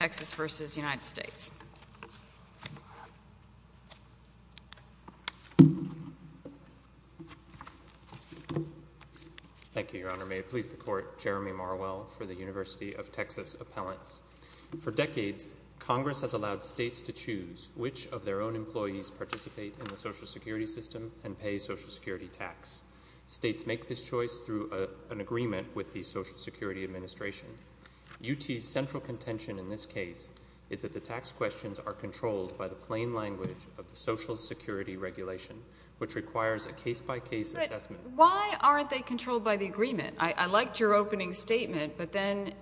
Thank you, Your Honor. May it please the Court, Jeremy Marwell for the University of Texas Appellants. For decades, Congress has allowed states to choose which of their own employees participate in the Social Security System and pay Social Security tax. States make this choice through an agreement with the Social Security Administration. UT's central contention in this case is that the tax questions are controlled by the plain language of the Social Security Regulation, which requires a case-by-case assessment. But why aren't they controlled by the agreement? I liked your opening statement, but then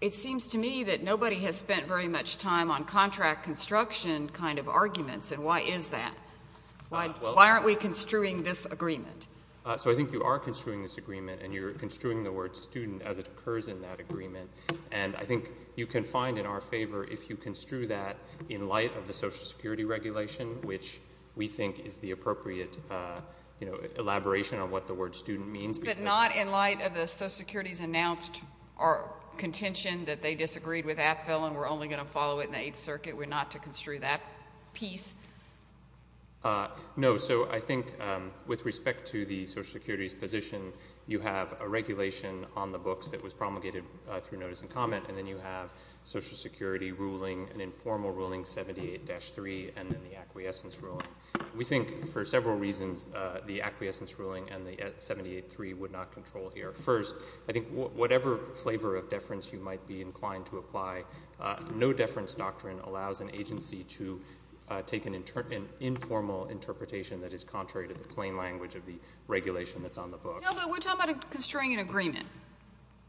it seems to me that nobody has spent very much time on contract construction kind of arguments, and why is that? Why aren't we construing this agreement? So I think you are construing this agreement, and you're construing the word student as it occurs in that agreement. And I think you can find in our favor if you construe that in light of the Social Security Regulation, which we think is the appropriate elaboration on what the word student means. But not in light of the Social Security's announced contention that they disagreed with Appell and were only going to follow it in the Eighth Circuit? We're not to construe that piece? No. So I think with respect to the Social Security's position, you have a regulation on the books that was promulgated through notice and comment, and then you have Social Security ruling, an informal ruling, 78-3, and then the acquiescence ruling. We think for several reasons the acquiescence ruling and the 78-3 would not control here. First, I think whatever flavor of deference you might be inclined to apply, no deference doctrine allows an agency to take an informal interpretation that is contrary to the plain language of the regulation that's on the books. No, but we're talking about construing an agreement,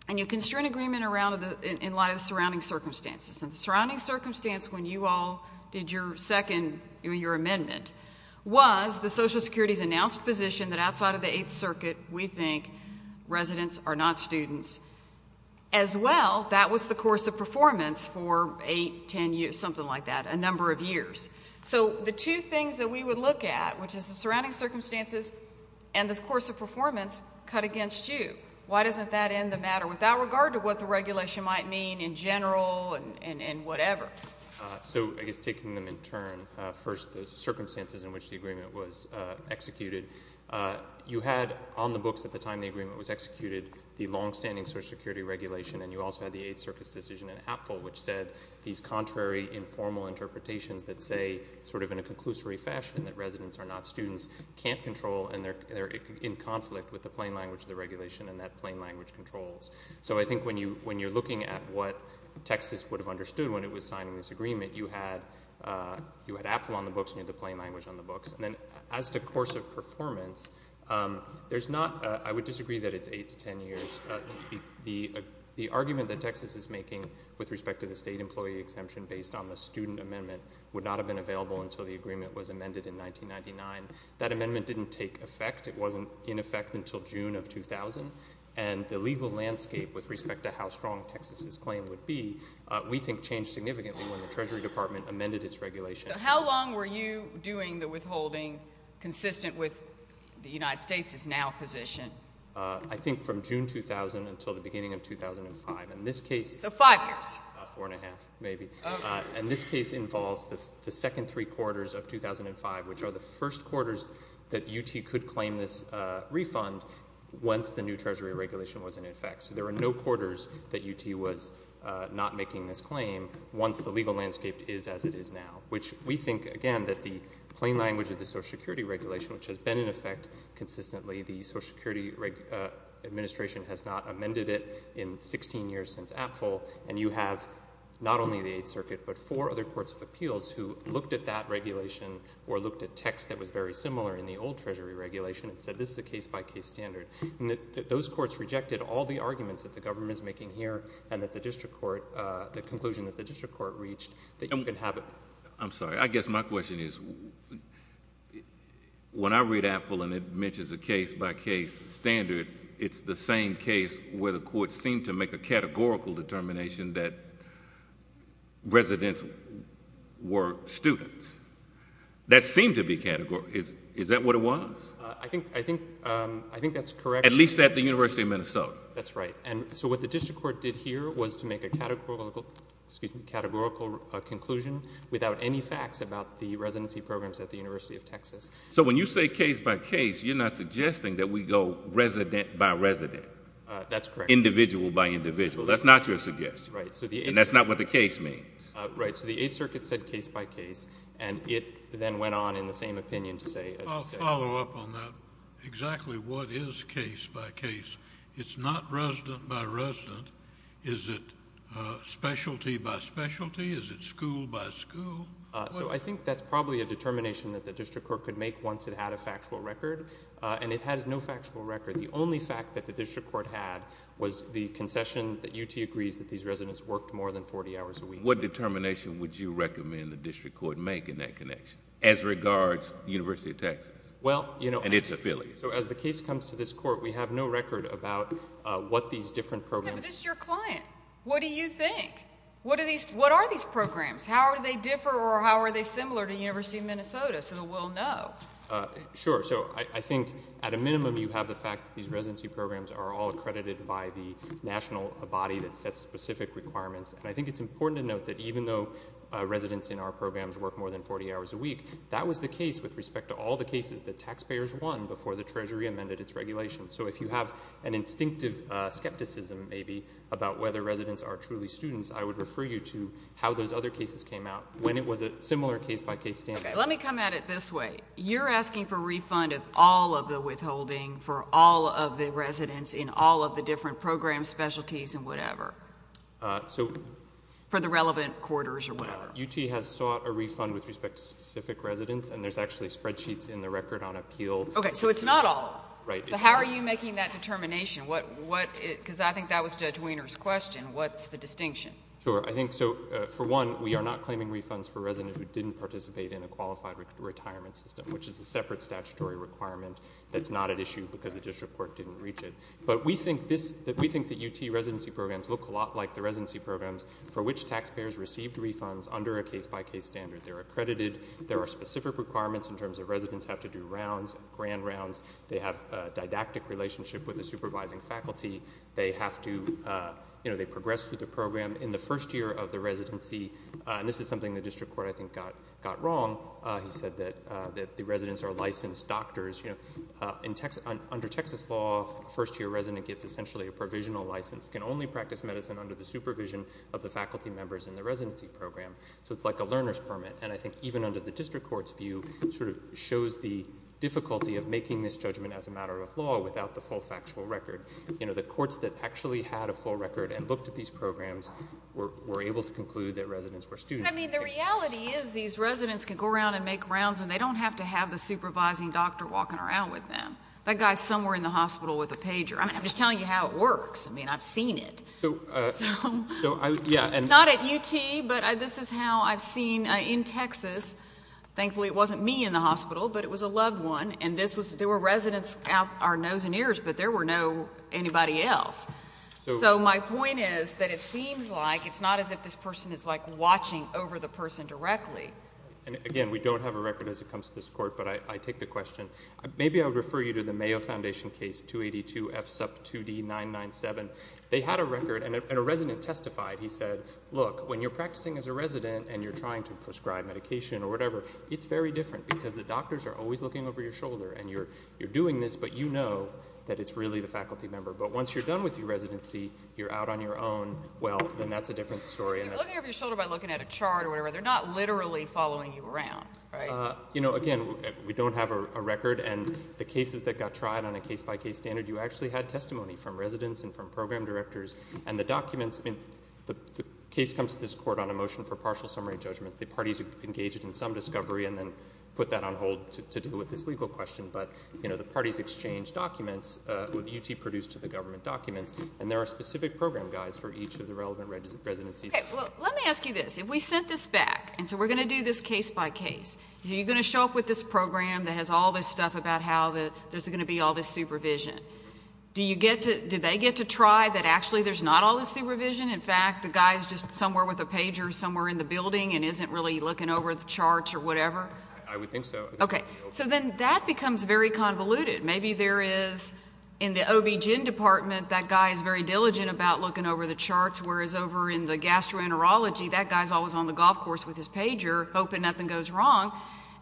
and you construe an agreement in light of the surrounding circumstances. And the surrounding circumstance when you all did your second, your amendment, was the Social Security's announced position that outside of the Eighth Circuit, we think residents are not students. As well, that was the course of performance for eight, ten years, something like that, a number of years. So the two things that we would look at, which is the surrounding circumstances and the course of performance, cut against you. Why doesn't that end the matter without regard to what the regulation might mean in general and whatever? So I guess taking them in turn, first the circumstances in which the agreement was executed. You had on the books at the time the agreement was executed the longstanding Social Security regulation, and you also had the Eighth Circuit's decision in APFL, which said these contrary informal interpretations that say sort of in a conclusory fashion that residents are not students can't control, and they're in conflict with the plain language of the regulation and that plain language controls. So I think when you're looking at what Texas would have understood when it was signing this agreement, you had APFL on the books and you had the plain language on the books. And then as to course of performance, there's not – I would disagree that it's eight to ten years. The argument that Texas is making with respect to the state employee exemption based on the student amendment would not have been available until the agreement was amended in 1999. That amendment didn't take effect. It wasn't in effect until June of 2000. And the legal landscape with respect to how strong Texas's claim would be, we think, changed significantly when the Treasury Department amended its regulation. So how long were you doing the withholding consistent with the United States' now position? I think from June 2000 until the beginning of 2005. So five years? Four and a half, maybe. And this case involves the second three quarters of 2005, which are the first quarters that UT could claim this refund once the new Treasury regulation was in effect. So there are no quarters that UT was not making this claim once the legal landscape is as it is now. Which we think, again, that the plain language of the Social Security regulation, which has been in effect consistently, the Social Security Administration has not amended it in 16 years since APFL. And you have not only the Eighth Circuit but four other courts of appeals who looked at that regulation or looked at text that was very similar in the old Treasury regulation and said this is a case-by-case standard. And those courts rejected all the arguments that the government is making here and that the district court, the conclusion that the district court reached that you can have it. I'm sorry. I guess my question is when I read APFL and it mentions a case-by-case standard, it's the same case where the court seemed to make a categorical determination that residents were students. That seemed to be categorical. Is that what it was? I think that's correct. At least at the University of Minnesota. That's right. And so what the district court did here was to make a categorical conclusion without any facts about the residency programs at the University of Texas. So when you say case-by-case, you're not suggesting that we go resident-by-resident. That's correct. Individual-by-individual. That's not your suggestion. Right. And that's not what the case means. Right. So the Eighth Circuit said case-by-case, and it then went on in the same opinion to say… I'll follow up on that. Exactly what is case-by-case? It's not resident-by-resident. Is it specialty-by-specialty? Is it school-by-school? So I think that's probably a determination that the district court could make once it had a factual record, and it has no factual record. The only fact that the district court had was the concession that UT agrees that these residents worked more than 40 hours a week. What determination would you recommend the district court make in that connection as regards the University of Texas and its affiliates? So as the case comes to this Court, we have no record about what these different programs… Yeah, but this is your client. What do you think? What are these programs? How do they differ, or how are they similar to the University of Minnesota so that we'll know? Sure. So I think at a minimum, you have the fact that these residency programs are all accredited by the national body that sets specific requirements. And I think it's important to note that even though residents in our programs work more than 40 hours a week, that was the case with respect to all the cases that taxpayers won before the Treasury amended its regulations. So if you have an instinctive skepticism, maybe, about whether residents are truly students, I would refer you to how those other cases came out when it was a similar case-by-case standard. Okay. Let me come at it this way. You're asking for refund of all of the withholding for all of the residents in all of the different programs, specialties, and whatever. So… For the relevant quarters or whatever. Yeah. UT has sought a refund with respect to specific residents, and there's actually spreadsheets in the record on appeal. Okay. So it's not all. Right. So how are you making that determination? Because I think that was Judge Wiener's question. What's the distinction? Sure. I think so, for one, we are not claiming refunds for residents who didn't participate in a qualified retirement system, which is a separate statutory requirement that's not at issue because the district court didn't reach it. But we think that UT residency programs look a lot like the residency programs for which taxpayers received refunds under a case-by-case standard. They're accredited. There are specific requirements in terms of residents have to do rounds, grand rounds. They have a didactic relationship with the supervising faculty. They have to, you know, they progress through the program. In the first year of the residency, and this is something the district court, I think, got wrong. He said that the residents are licensed doctors. You know, under Texas law, a first-year resident gets essentially a provisional license, can only practice medicine under the supervision of the faculty members in the residency program. So it's like a learner's permit. And I think even under the district court's view sort of shows the difficulty of making this judgment as a matter of law without the full factual record. You know, the courts that actually had a full record and looked at these programs were able to conclude that residents were students. I mean, the reality is these residents can go around and make rounds, and they don't have to have the supervising doctor walking around with them. That guy's somewhere in the hospital with a pager. I mean, I'm just telling you how it works. I mean, I've seen it. Not at UT, but this is how I've seen in Texas. Thankfully, it wasn't me in the hospital, but it was a loved one, and there were residents out our nose and ears, but there were no anybody else. So my point is that it seems like it's not as if this person is, like, watching over the person directly. And, again, we don't have a record as it comes to this court, but I take the question. Maybe I would refer you to the Mayo Foundation case, 282F sub 2D997. They had a record, and a resident testified. He said, look, when you're practicing as a resident and you're trying to prescribe medication or whatever, it's very different because the doctors are always looking over your shoulder, and you're doing this, but you know that it's really the faculty member. But once you're done with your residency, you're out on your own, well, then that's a different story. They're looking over your shoulder by looking at a chart or whatever. They're not literally following you around, right? You know, again, we don't have a record, and the cases that got tried on a case-by-case standard, you actually had testimony from residents and from program directors. And the documents, I mean, the case comes to this court on a motion for partial summary judgment. The parties engaged in some discovery and then put that on hold to deal with this legal question. But, you know, the parties exchanged documents, UT produced the government documents, and there are specific program guides for each of the relevant residencies. Okay. Well, let me ask you this. If we sent this back, and so we're going to do this case-by-case, are you going to show up with this program that has all this stuff about how there's going to be all this supervision? Do you get to, do they get to try that actually there's not all this supervision? In fact, the guy's just somewhere with a pager somewhere in the building and isn't really looking over the charts or whatever? I would think so. Okay. So then that becomes very convoluted. Maybe there is, in the OBGYN department, that guy is very diligent about looking over the charts, whereas over in the gastroenterology, that guy is always on the golf course with his pager, hoping nothing goes wrong.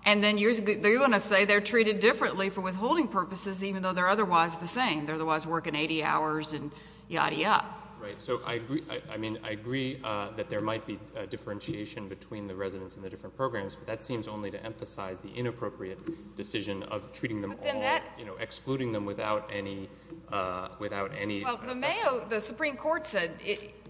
And then you're going to say they're treated differently for withholding purposes, even though they're otherwise the same. They're otherwise working 80 hours and yadda yadda. Right. So I agree, I mean, I agree that there might be differentiation between the residents and the different programs, but that seems only to emphasize the inappropriate decision of treating them all, you know, excluding them without any assessment. Well, the Mayo, the Supreme Court said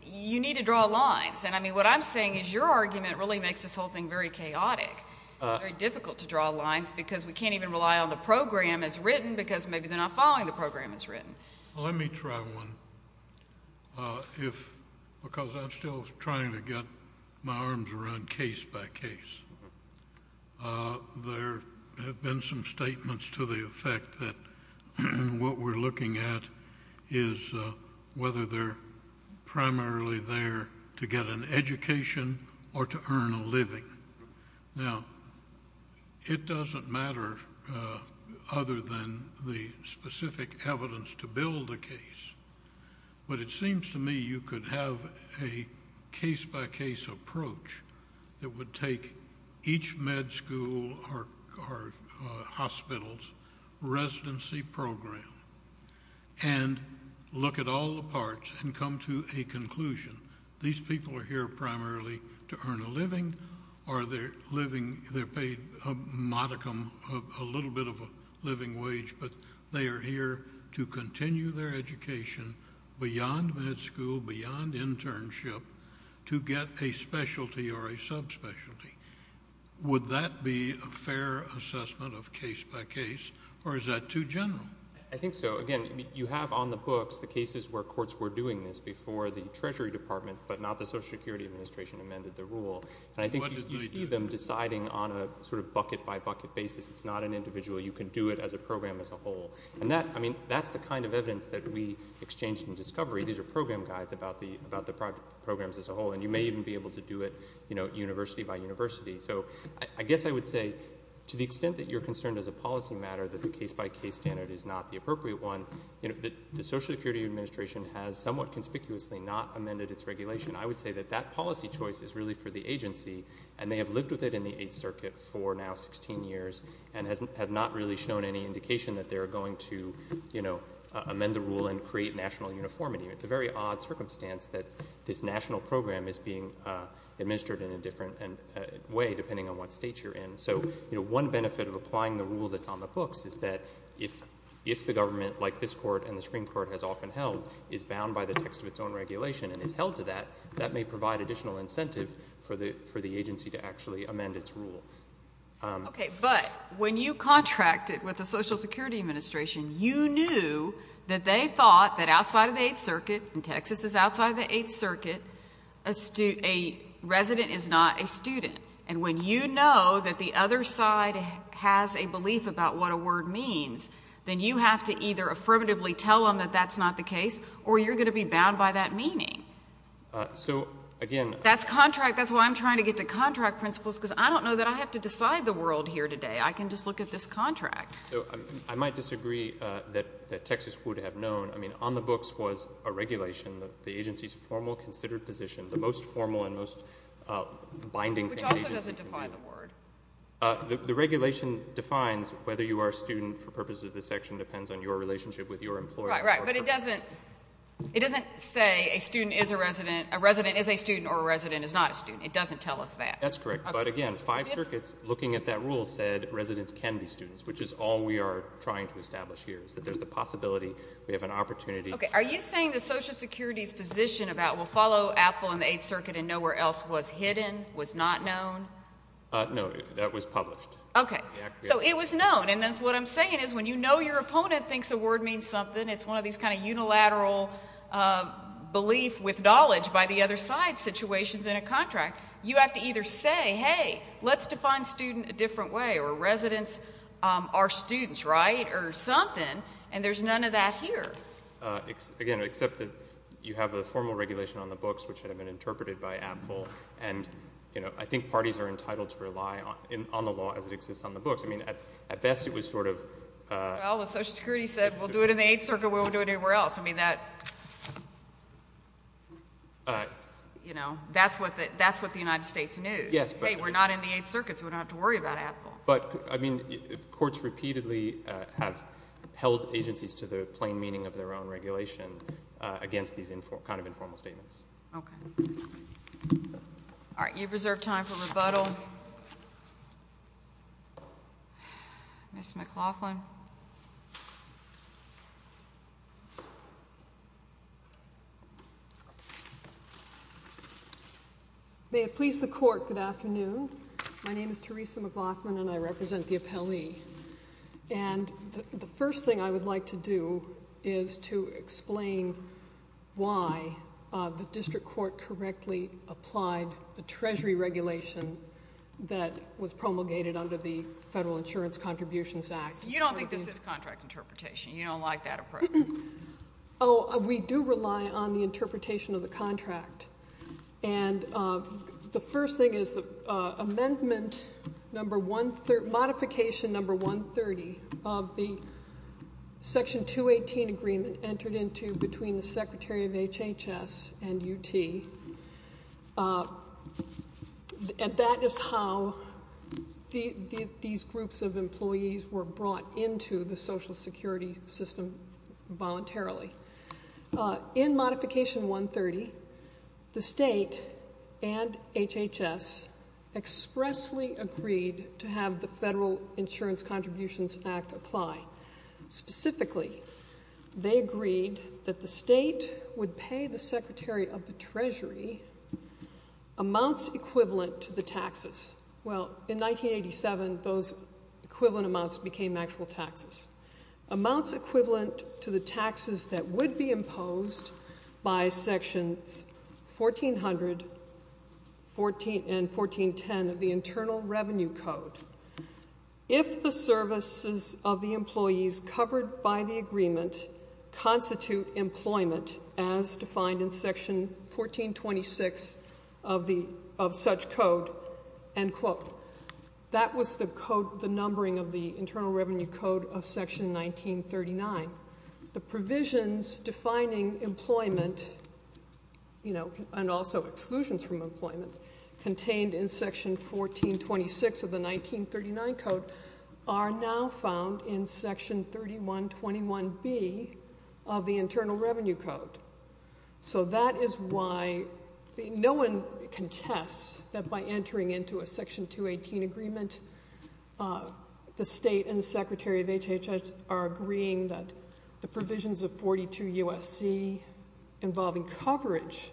you need to draw lines. And, I mean, what I'm saying is your argument really makes this whole thing very chaotic. It's very difficult to draw lines because we can't even rely on the program as written because maybe they're not following the program as written. Let me try one because I'm still trying to get my arms around case by case. There have been some statements to the effect that what we're looking at is whether they're primarily there to get an education Now, it doesn't matter other than the specific evidence to build a case, but it seems to me you could have a case by case approach that would take each med school or hospital's residency program and look at all the parts and come to a conclusion. These people are here primarily to earn a living or they're paid a modicum, a little bit of a living wage, but they are here to continue their education beyond med school, beyond internship, to get a specialty or a subspecialty. Would that be a fair assessment of case by case, or is that too general? I think so. Again, you have on the books the cases where courts were doing this before the Treasury Department, but not the Social Security Administration amended the rule. And I think you see them deciding on a sort of bucket by bucket basis. It's not an individual. You can do it as a program as a whole. And that's the kind of evidence that we exchanged in discovery. These are program guides about the programs as a whole, and you may even be able to do it university by university. So I guess I would say to the extent that you're concerned as a policy matter that the case by case standard is not the appropriate one, the Social Security Administration has somewhat conspicuously not amended its regulation. I would say that that policy choice is really for the agency, and they have lived with it in the Eighth Circuit for now 16 years and have not really shown any indication that they're going to amend the rule and create national uniformity. It's a very odd circumstance that this national program is being administered in a different way depending on what state you're in. So, you know, one benefit of applying the rule that's on the books is that if the government, like this Court and the Supreme Court has often held, is bound by the text of its own regulation and is held to that, that may provide additional incentive for the agency to actually amend its rule. Okay. But when you contracted with the Social Security Administration, you knew that they thought that outside of the Eighth Circuit, and Texas is outside of the Eighth Circuit, a resident is not a student. And when you know that the other side has a belief about what a word means, then you have to either affirmatively tell them that that's not the case or you're going to be bound by that meaning. So, again, That's contract. That's why I'm trying to get to contract principles because I don't know that I have to decide the world here today. I can just look at this contract. I might disagree that Texas would have known. I mean, on the books was a regulation that the agency's formal considered position, the most formal and most binding thing the agency can do. Which also doesn't define the word. The regulation defines whether you are a student for purposes of this section depends on your relationship with your employer. Right, right. But it doesn't say a student is a resident, a resident is a student, or a resident is not a student. It doesn't tell us that. That's correct. But, again, five circuits looking at that rule said residents can be students, which is all we are trying to establish here is that there's the possibility we have an opportunity. Okay. Are you saying the Social Security's position about we'll follow Apple in the Eighth Circuit and know where else was hidden was not known? No. That was published. Okay. So it was known. And that's what I'm saying is when you know your opponent thinks a word means something, it's one of these kind of unilateral belief with knowledge by the other side situations in a contract, you have to either say, hey, let's define student a different way, or residents are students, right, or something, and there's none of that here. Again, except that you have a formal regulation on the books which had been interpreted by Apple, and, you know, I think parties are entitled to rely on the law as it exists on the books. I mean, at best it was sort of... Well, the Social Security said we'll do it in the Eighth Circuit. We won't do it anywhere else. I mean, that's, you know, that's what the United States knew. Yes, but... Hey, we're not in the Eighth Circuit, so we don't have to worry about Apple. But, I mean, courts repeatedly have held agencies to the plain meaning of their own regulation against these kind of informal statements. Okay. All right. You have reserved time for rebuttal. Ms. McLaughlin. May it please the Court, good afternoon. My name is Theresa McLaughlin, and I represent the appellee. And the first thing I would like to do is to explain why the district court correctly applied the Treasury regulation that was promulgated under the Federal Insurance Contributions Act. You don't think this is contract interpretation. You don't like that approach. Oh, we do rely on the interpretation of the contract. And the first thing is that amendment number 130, modification number 130 of the section 218 agreement entered into between the Secretary of HHS and UT. And that is how these groups of employees were brought into the social security system voluntarily. In modification 130, the state and HHS expressly agreed to have the Federal Insurance Contributions Act apply. Specifically, they agreed that the state would pay the Secretary of the Treasury amounts equivalent to the taxes. Well, in 1987, those equivalent amounts became actual taxes. Amounts equivalent to the taxes that would be imposed by sections 1400 and 1410 of the Internal Revenue Code. If the services of the employees covered by the agreement constitute employment as defined in section 1426 of such code, that was the numbering of the Internal Revenue Code of section 1939. The provisions defining employment and also exclusions from employment contained in section 1426 of the 1939 code are now found in section 3121B of the Internal Revenue Code. So that is why no one contests that by entering into a section 218 agreement, the state and the Secretary of HHS are agreeing that the provisions of 42 USC involving coverage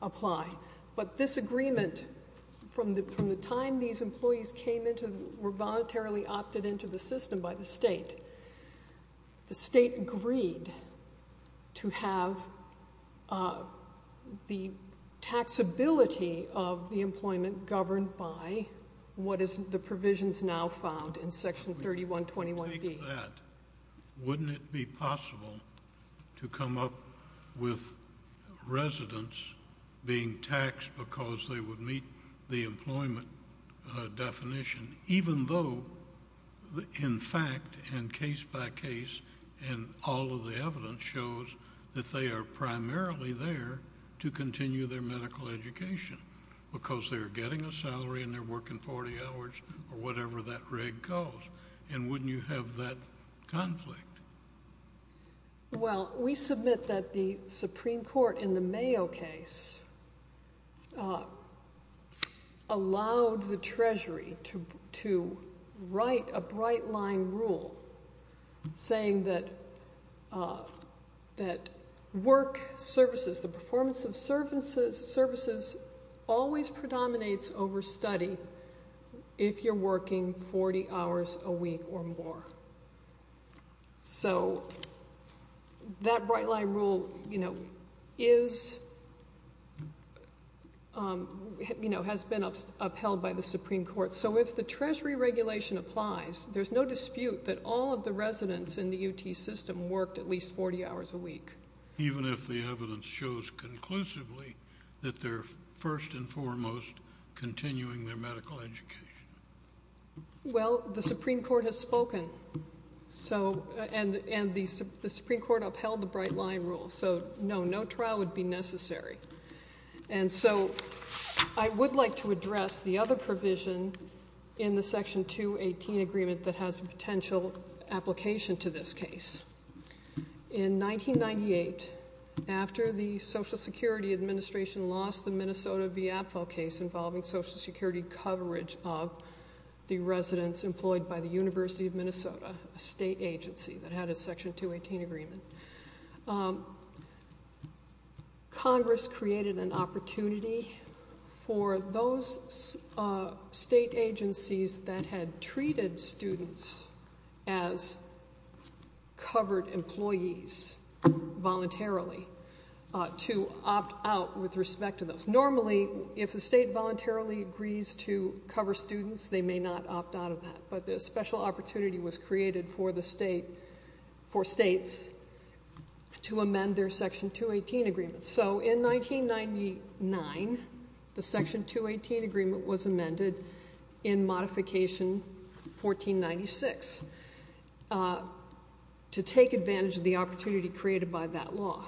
apply. But this agreement, from the time these employees were voluntarily opted into the system by the state, the state agreed to have the taxability of the employment governed by what is the provisions now found in section 3121B. Wouldn't it be possible to come up with residents being taxed because they would meet the employment definition, even though in fact and case by case and all of the evidence shows that they are primarily there to continue their medical education because they're getting a salary and they're working 40 hours or whatever that reg calls? And wouldn't you have that conflict? Well, we submit that the Supreme Court in the Mayo case allowed the Treasury to write a bright line rule saying that work services, the performance of services always predominates over study if you're working 40 hours a week or more. So that bright line rule has been upheld by the Supreme Court. So if the Treasury regulation applies, there's no dispute that all of the residents in the UT system worked at least 40 hours a week. Even if the evidence shows conclusively that they're first and foremost continuing their medical education. Well, the Supreme Court has spoken. And the Supreme Court upheld the bright line rule. So no, no trial would be necessary. And so I would like to address the other provision in the section 218 agreement that has a potential application to this case. In 1998, after the Social Security Administration lost the Minnesota v. Apfel case involving Social Security coverage of the residents employed by the University of Minnesota, a state agency that had a section 218 agreement, Congress created an opportunity for those state agencies that had treated students as covered employees voluntarily to opt out with respect to those. Normally, if the state voluntarily agrees to cover students, they may not opt out of that. But the special opportunity was created for states to amend their section 218 agreements. So in 1999, the section 218 agreement was amended in modification 1496 to take advantage of the opportunity created by that law.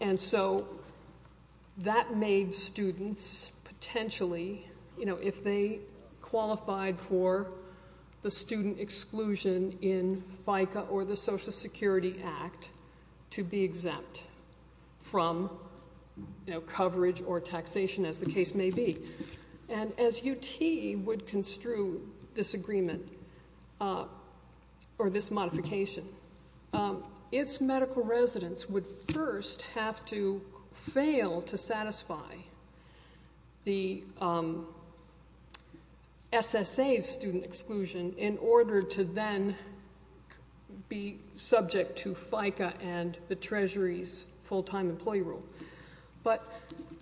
And so that made students potentially, if they qualified for the student exclusion in FICA or the Social Security Act to be exempt from coverage or taxation as the case may be. And as UT would construe this agreement or this modification, its medical residents would first have to fail to satisfy the SSA's student exclusion in order to then be subject to FICA and the Treasury's full-time employee rule. But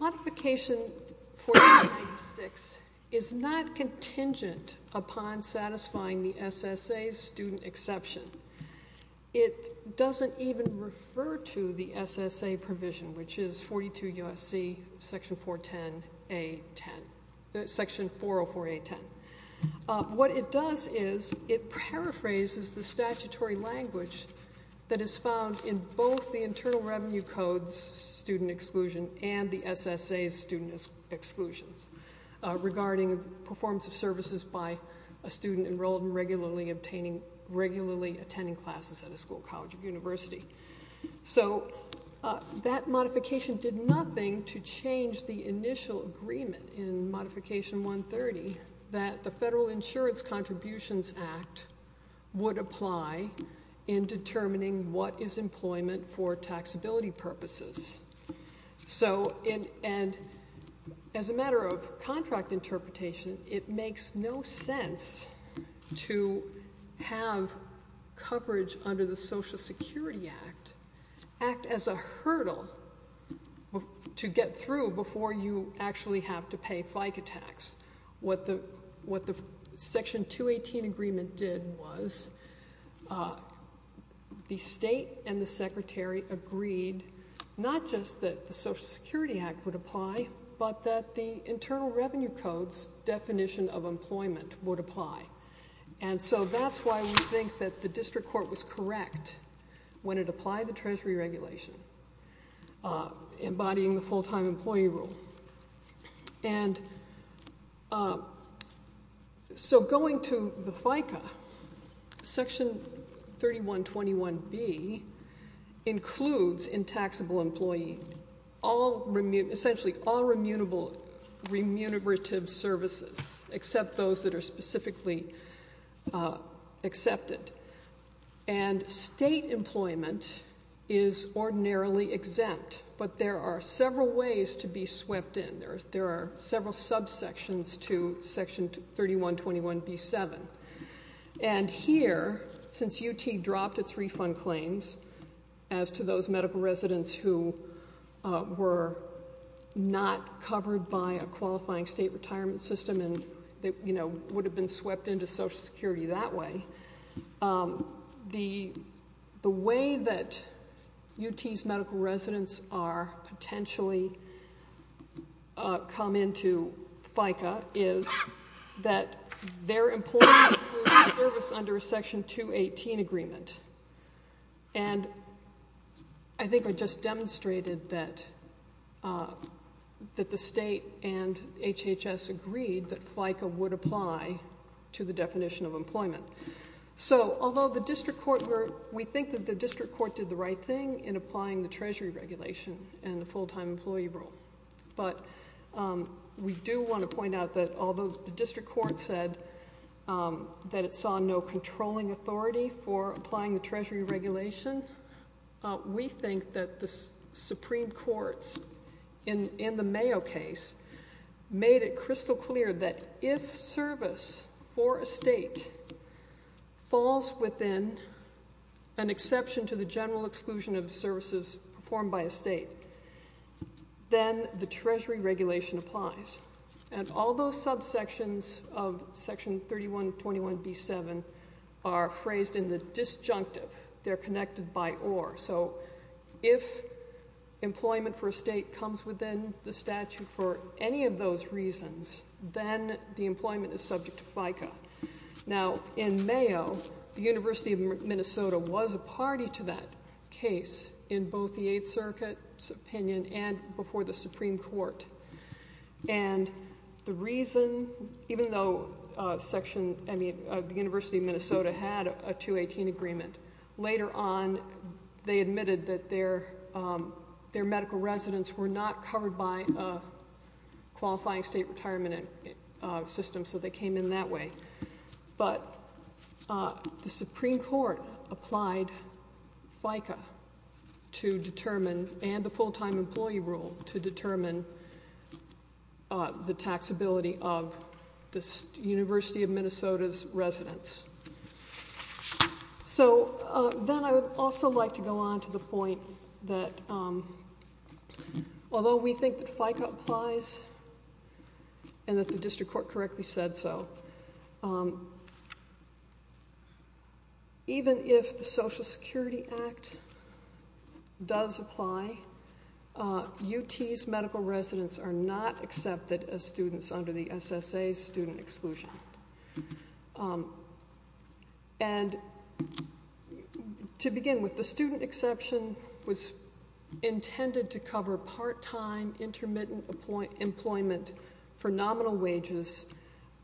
modification 1496 is not contingent upon satisfying the SSA's student exception. It doesn't even refer to the SSA provision, which is 42 USC section 404A10. What it does is it paraphrases the statutory language that is found in both the Internal Revenue Code's student exclusion and the SSA's student exclusions. Regarding the performance of services by a student enrolled in regularly attending classes at a school, college, or university. So that modification did nothing to change the initial agreement in modification 130 that the Federal Insurance Contributions Act would apply in determining what is employment for taxability purposes. So, and as a matter of contract interpretation, it makes no sense to have coverage under the Social Security Act act as a hurdle to get through before you actually have to pay FICA tax. What the section 218 agreement did was the state and the secretary agreed not just that the Social Security Act would apply, but that the Internal Revenue Code's definition of employment would apply. And so that's why we think that the district court was correct when it applied the Treasury regulation embodying the full-time employee rule. And so going to the FICA, section 3121B includes intaxable employee. Essentially all remunerative services, except those that are specifically accepted. And state employment is ordinarily exempt, but there are several ways to be swept in. There are several subsections to section 3121B7. And here, since UT dropped its refund claims as to those medical residents who were not covered by a qualifying state retirement system and would have been swept into Social Security that way, the way that UT's medical residents are potentially come into FICA is that their employment includes service under a section 218 agreement. And I think I just demonstrated that the state and HHS agreed that FICA would apply to the definition of employment. So although we think that the district court did the right thing in applying the Treasury regulation and the full-time employee rule, but we do want to point out that although the district court said that it saw no controlling authority for applying the Treasury regulation, we think that the Supreme Court's, in the Mayo case, made it crystal clear that if service for a state falls within an exception to the general exclusion of services performed by a state, then the Treasury regulation applies. And all those subsections of section 3121B7 are phrased in the disjunctive. They're connected by or. So if employment for a state comes within the statute for any of those reasons, then the employment is subject to FICA. Now, in Mayo, the University of Minnesota was a party to that case in both the Eighth Circuit's opinion and before the Supreme Court. And the reason, even though the University of Minnesota had a 218 agreement, later on they admitted that their medical residents were not covered by a qualifying state retirement system, so they came in that way. But the Supreme Court applied FICA to determine, and the full-time employee rule to determine, the taxability of the University of Minnesota's residents. So then I would also like to go on to the point that, although we think that FICA applies and that the district court correctly said so, even if the Social Security Act does apply, UT's medical residents are not accepted as students under the SSA's student exclusion. And to begin with, the student exception was intended to cover part-time, intermittent employment for nominal wages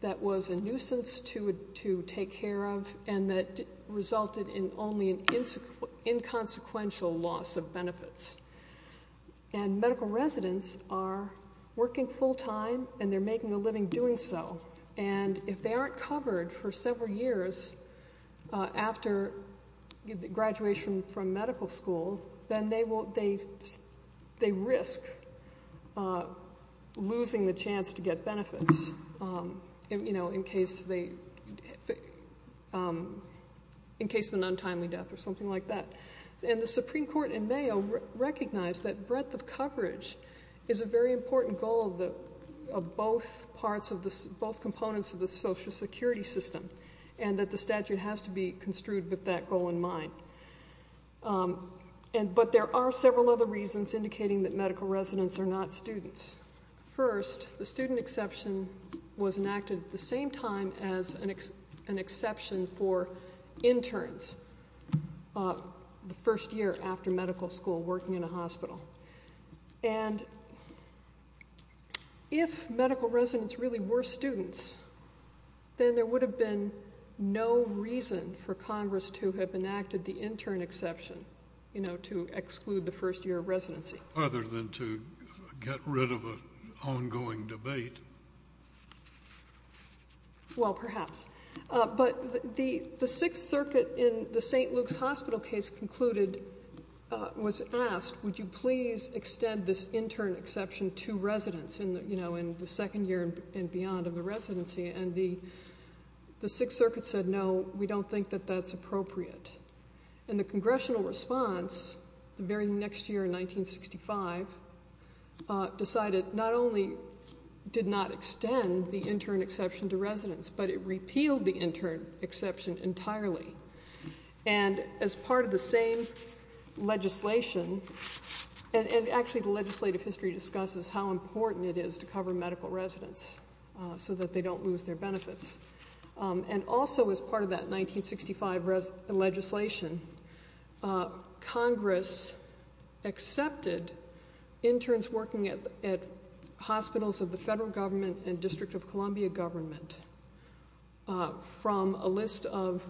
that was a nuisance to take care of and that resulted in only an inconsequential loss of benefits. And medical residents are working full-time and they're making a living doing so. And if they aren't covered for several years after graduation from medical school, then they risk losing the chance to get benefits in case of an untimely death or something like that. And the Supreme Court in Mayo recognized that breadth of coverage is a very important goal of both components of the Social Security system and that the statute has to be construed with that goal in mind. But there are several other reasons indicating that medical residents are not students. First, the student exception was enacted at the same time as an exception for interns the first year after medical school working in a hospital. And if medical residents really were students, then there would have been no reason for Congress to have enacted the intern exception, you know, to exclude the first year of residency. Other than to get rid of an ongoing debate. Well, perhaps. But the Sixth Circuit in the St. Luke's Hospital case concluded, was asked, would you please extend this intern exception to residents in the second year and beyond of the residency? And the Sixth Circuit said, no, we don't think that that's appropriate. And the Congressional response, the very next year in 1965, decided not only did not extend the intern exception to residents, but it repealed the intern exception entirely. And as part of the same legislation, and actually the legislative history discusses how important it is to cover medical residents so that they don't lose their benefits. And also as part of that 1965 legislation, Congress accepted interns working at hospitals of the federal government and District of Columbia government from a list of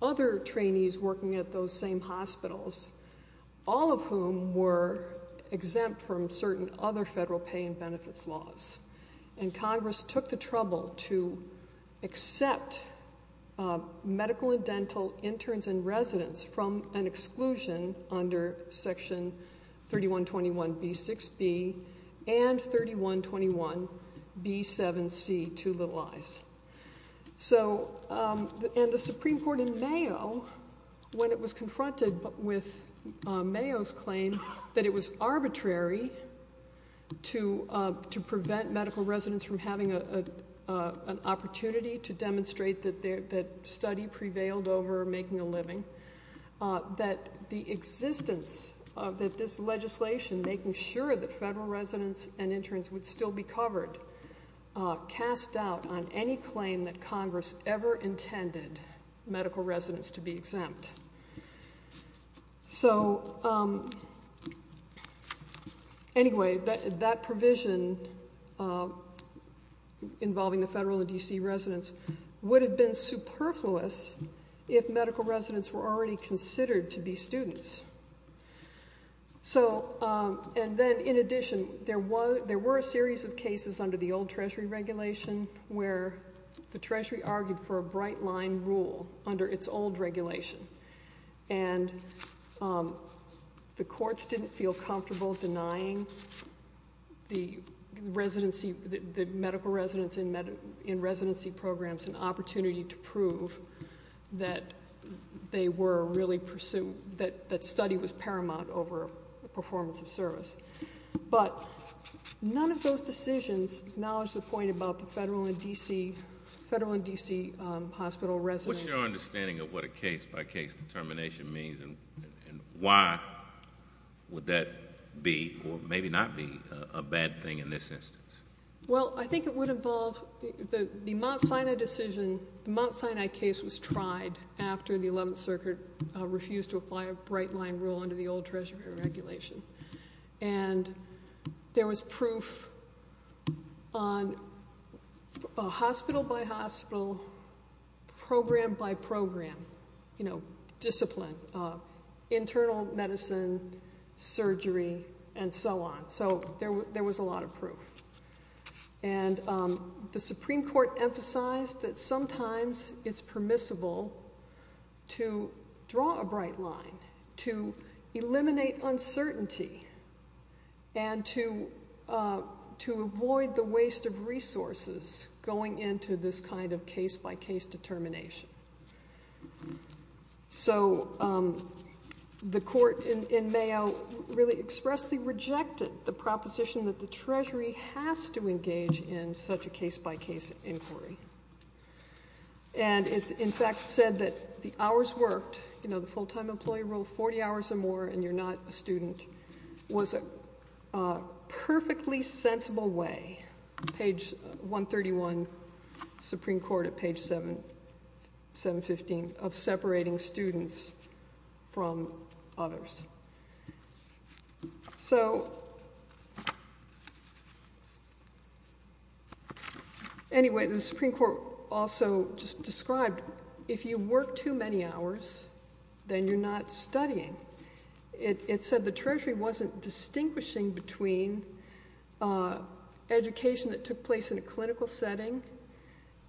other trainees working at those same hospitals, all of whom were exempt from certain other federal pay and benefits laws. And Congress took the trouble to accept medical and dental interns and residents from an exclusion under section 3121B6B and 3121B7C, two little I's. So, and the Supreme Court in Mayo, when it was confronted with Mayo's claim that it was arbitrary to prevent medical residents from having an opportunity to demonstrate that study prevailed over making a living, that the existence of this legislation, making sure that federal residents and interns would still be covered, cast doubt on any claim that Congress ever intended medical residents to be exempt. So, anyway, that provision involving the federal and D.C. residents would have been superfluous if medical residents were already considered to be students. So, and then in addition, there were a series of cases under the old Treasury regulation where the Treasury argued for a bright line rule under its old regulation. And the courts didn't feel comfortable denying the residency, the medical residents in residency programs an opportunity to prove that they were really, that study was paramount over performance of service. But none of those decisions acknowledge the point about the federal and D.C. hospital residents. What's your understanding of what a case-by-case determination means and why would that be or maybe not be a bad thing in this instance? Well, I think it would involve the Mount Sinai decision, the Mount Sinai case was tried after the 11th Circuit refused to apply a bright line rule under the old Treasury regulation. And there was proof on hospital-by-hospital, program-by-program, you know, discipline, internal medicine, surgery, and so on. So there was a lot of proof. And the Supreme Court emphasized that sometimes it's permissible to draw a bright line, to eliminate uncertainty and to avoid the waste of resources going into this kind of case-by-case determination. So the court in Mayo really expressly rejected the proposition that the Treasury has to engage in such a case-by-case inquiry. And it's in fact said that the hours worked, you know, the full-time employee rule, 40 hours or more and you're not a student, was a perfectly sensible way, page 131, Supreme Court at page 715, of separating students from others. So anyway, the Supreme Court also just described, if you work too many hours, then you're not studying. It said the Treasury wasn't distinguishing between education that took place in a clinical setting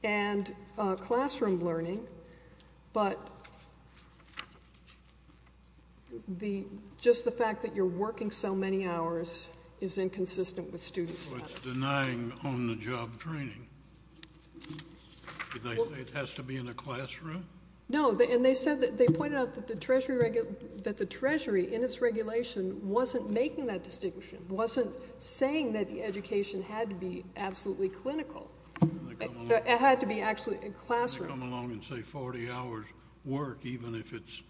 and classroom learning, but just the fact that you're working so many hours is inconsistent with student status. So it's denying on-the-job training. It has to be in a classroom? No. And they said that they pointed out that the Treasury in its regulation wasn't making that distinction, wasn't saying that the education had to be absolutely clinical. It had to be actually in classroom. And to come along and say 40 hours work, even if it's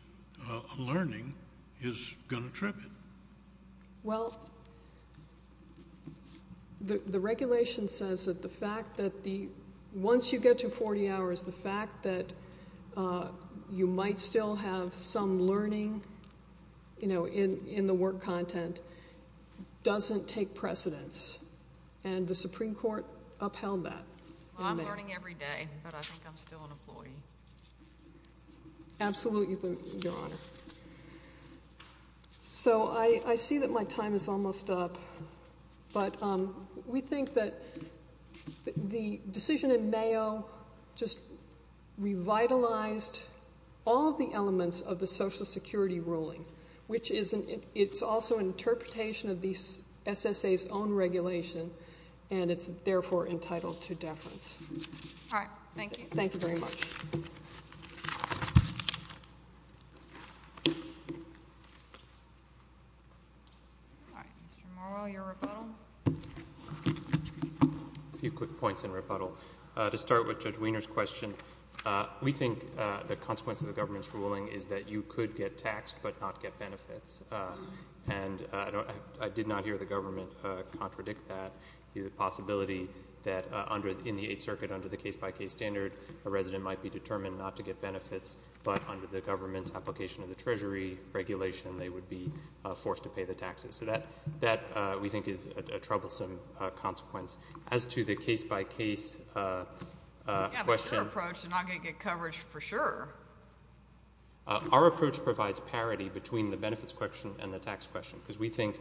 learning, is going to trip it. Well, the regulation says that the fact that once you get to 40 hours, the fact that you might still have some learning, you know, in the work content, doesn't take precedence. And the Supreme Court upheld that. I'm learning every day, but I think I'm still an employee. Absolutely, Your Honor. So I see that my time is almost up, but we think that the decision in Mayo just revitalized all of the elements of the Social Security ruling, which is also an interpretation of the SSA's own regulation, and it's therefore entitled to deference. All right. Thank you. Thank you very much. All right. Mr. Morrell, your rebuttal? A few quick points in rebuttal. To start with Judge Wiener's question, we think the consequence of the government's ruling is that you could get taxed but not get benefits. And I did not hear the government contradict that, the possibility that in the Eighth Circuit under the case-by-case standard, a resident might be determined not to get benefits, but under the government's application of the Treasury regulation, they would be forced to pay the taxes. So that, we think, is a troublesome consequence. As to the case-by-case question. With your approach, you're not going to get coverage for sure. Our approach provides parity between the benefits question and the tax question because we think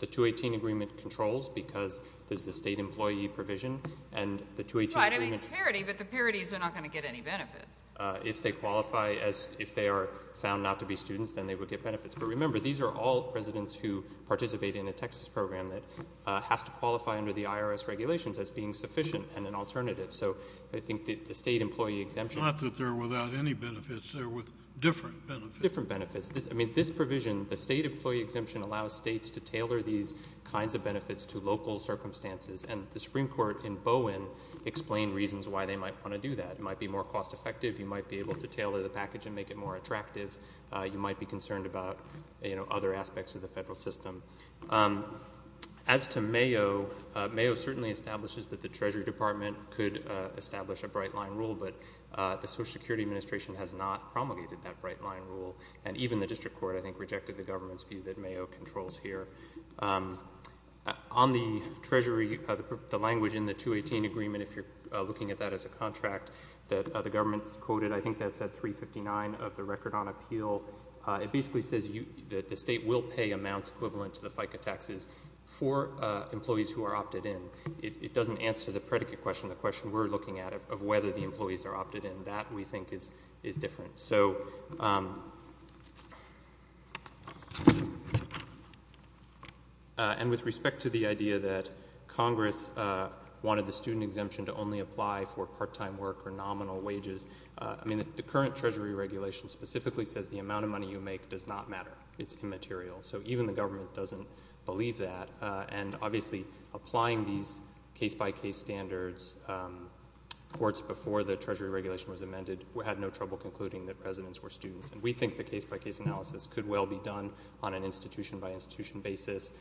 the 218 agreement controls because this is a state employee provision and the 218 agreement. Right. I mean, it's parity, but the parities are not going to get any benefits. If they qualify as if they are found not to be students, then they would get benefits. But remember, these are all residents who participate in a Texas program that has to qualify under the IRS regulations as being sufficient and an alternative. So I think the state employee exemption. It's not that they're without any benefits. They're with different benefits. Different benefits. I mean, this provision, the state employee exemption, allows states to tailor these kinds of benefits to local circumstances, and the Supreme Court in Bowen explained reasons why they might want to do that. It might be more cost effective. You might be able to tailor the package and make it more attractive. You might be concerned about other aspects of the federal system. As to Mayo, Mayo certainly establishes that the Treasury Department could establish a bright line rule, but the Social Security Administration has not promulgated that bright line rule, and even the district court, I think, rejected the government's view that Mayo controls here. On the Treasury, the language in the 218 agreement, if you're looking at that as a contract that the government quoted, I think that's at 359 of the record on appeal. It basically says that the state will pay amounts equivalent to the FICA taxes for employees who are opted in. It doesn't answer the predicate question, the question we're looking at of whether the employees are opted in. That, we think, is different. With respect to the idea that Congress wanted the student exemption to only apply for part-time work or nominal wages, the current Treasury regulation specifically says the amount of money you make does not matter. It's immaterial. So even the government doesn't believe that. Obviously, applying these case-by-case standards, courts before the Treasury regulation was amended, had no trouble concluding that residents were students. We think the case-by-case analysis could well be done on an institution-by-institution basis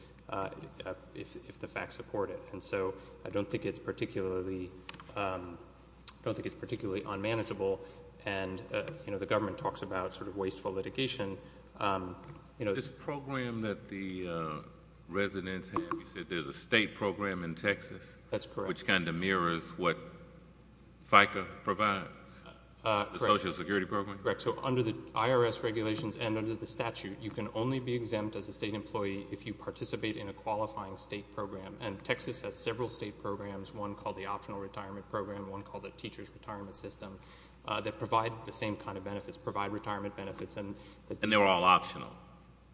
if the facts support it. So I don't think it's particularly unmanageable. The government talks about wasteful litigation. This program that the residents have, you said there's a state program in Texas? That's correct. Which kind of mirrors what FICA provides, the Social Security program? Correct. So under the IRS regulations and under the statute, you can only be exempt as a state employee if you participate in a qualifying state program. And Texas has several state programs, one called the Optional Retirement Program, one called the Teacher's Retirement System, that provide the same kind of benefits, provide retirement benefits. And they're all optional?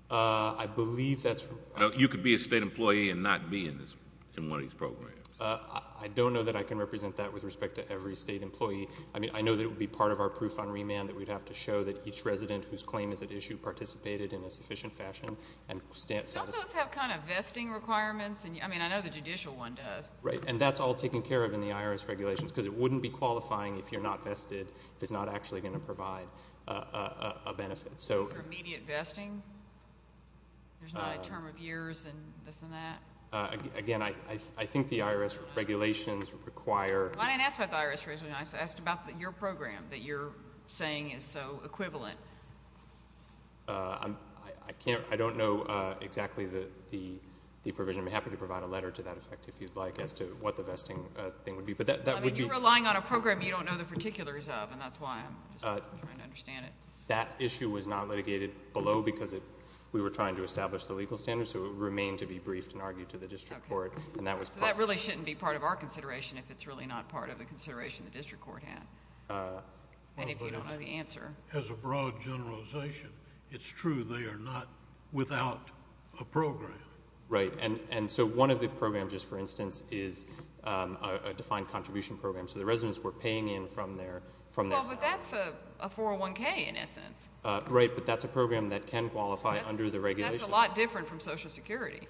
I believe that's right. You could be a state employee and not be in one of these programs? I don't know that I can represent that with respect to every state employee. I mean, I know that it would be part of our proof on remand that we'd have to show that each resident whose claim is at issue participated in a sufficient fashion. Don't those have kind of vesting requirements? I mean, I know the judicial one does. Right, and that's all taken care of in the IRS regulations, because it wouldn't be qualifying if you're not vested, if it's not actually going to provide a benefit. Is there immediate vesting? There's not a term of years and this and that? Again, I think the IRS regulations require... I didn't ask about the IRS regulations. I asked about your program that you're saying is so equivalent. I don't know exactly the provision. I'm happy to provide a letter to that effect if you'd like as to what the vesting thing would be. I mean, you're relying on a program you don't know the particulars of, and that's why I'm just trying to understand it. That issue was not litigated below because we were trying to establish the legal standards, so it would remain to be briefed and argued to the district court. So that really shouldn't be part of our consideration if it's really not part of the consideration the district court had. And if you don't know the answer... Right, and so one of the programs, just for instance, is a defined contribution program. So the residents were paying in from their... Well, but that's a 401K in essence. Right, but that's a program that can qualify under the regulations. That's a lot different from Social Security.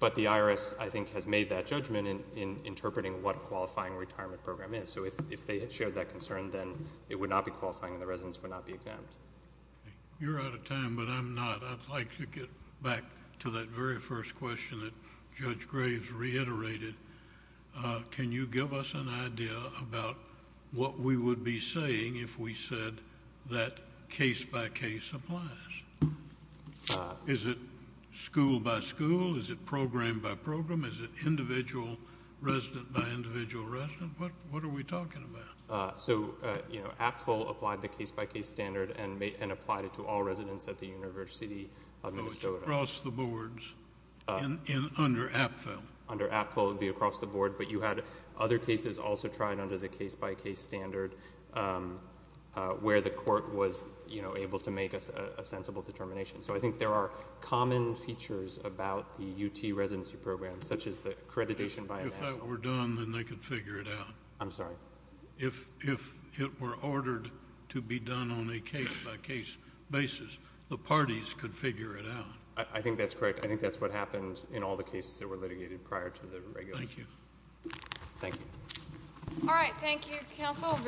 But the IRS, I think, has made that judgment in interpreting what a qualifying retirement program is. So if they had shared that concern, then it would not be qualifying and the residents would not be exempt. You're out of time, but I'm not. I'd like to get back to that very first question that Judge Graves reiterated. Can you give us an idea about what we would be saying if we said that case-by-case applies? Is it school-by-school? Is it program-by-program? Is it individual resident-by-individual resident? What are we talking about? So, you know, APFL applied the case-by-case standard and applied it to all residents at the University of Minnesota. Oh, it's across the boards and under APFL. Under APFL, it would be across the board, but you had other cases also tried under the case-by-case standard where the court was, you know, able to make a sensible determination. So I think there are common features about the UT residency program, such as the accreditation by a national... If that were done, then they could figure it out. I'm sorry? If it were ordered to be done on a case-by-case basis, the parties could figure it out. I think that's correct. I think that's what happened in all the cases that were litigated prior to the regulations. Thank you. Thank you. All right, thank you, Counsel.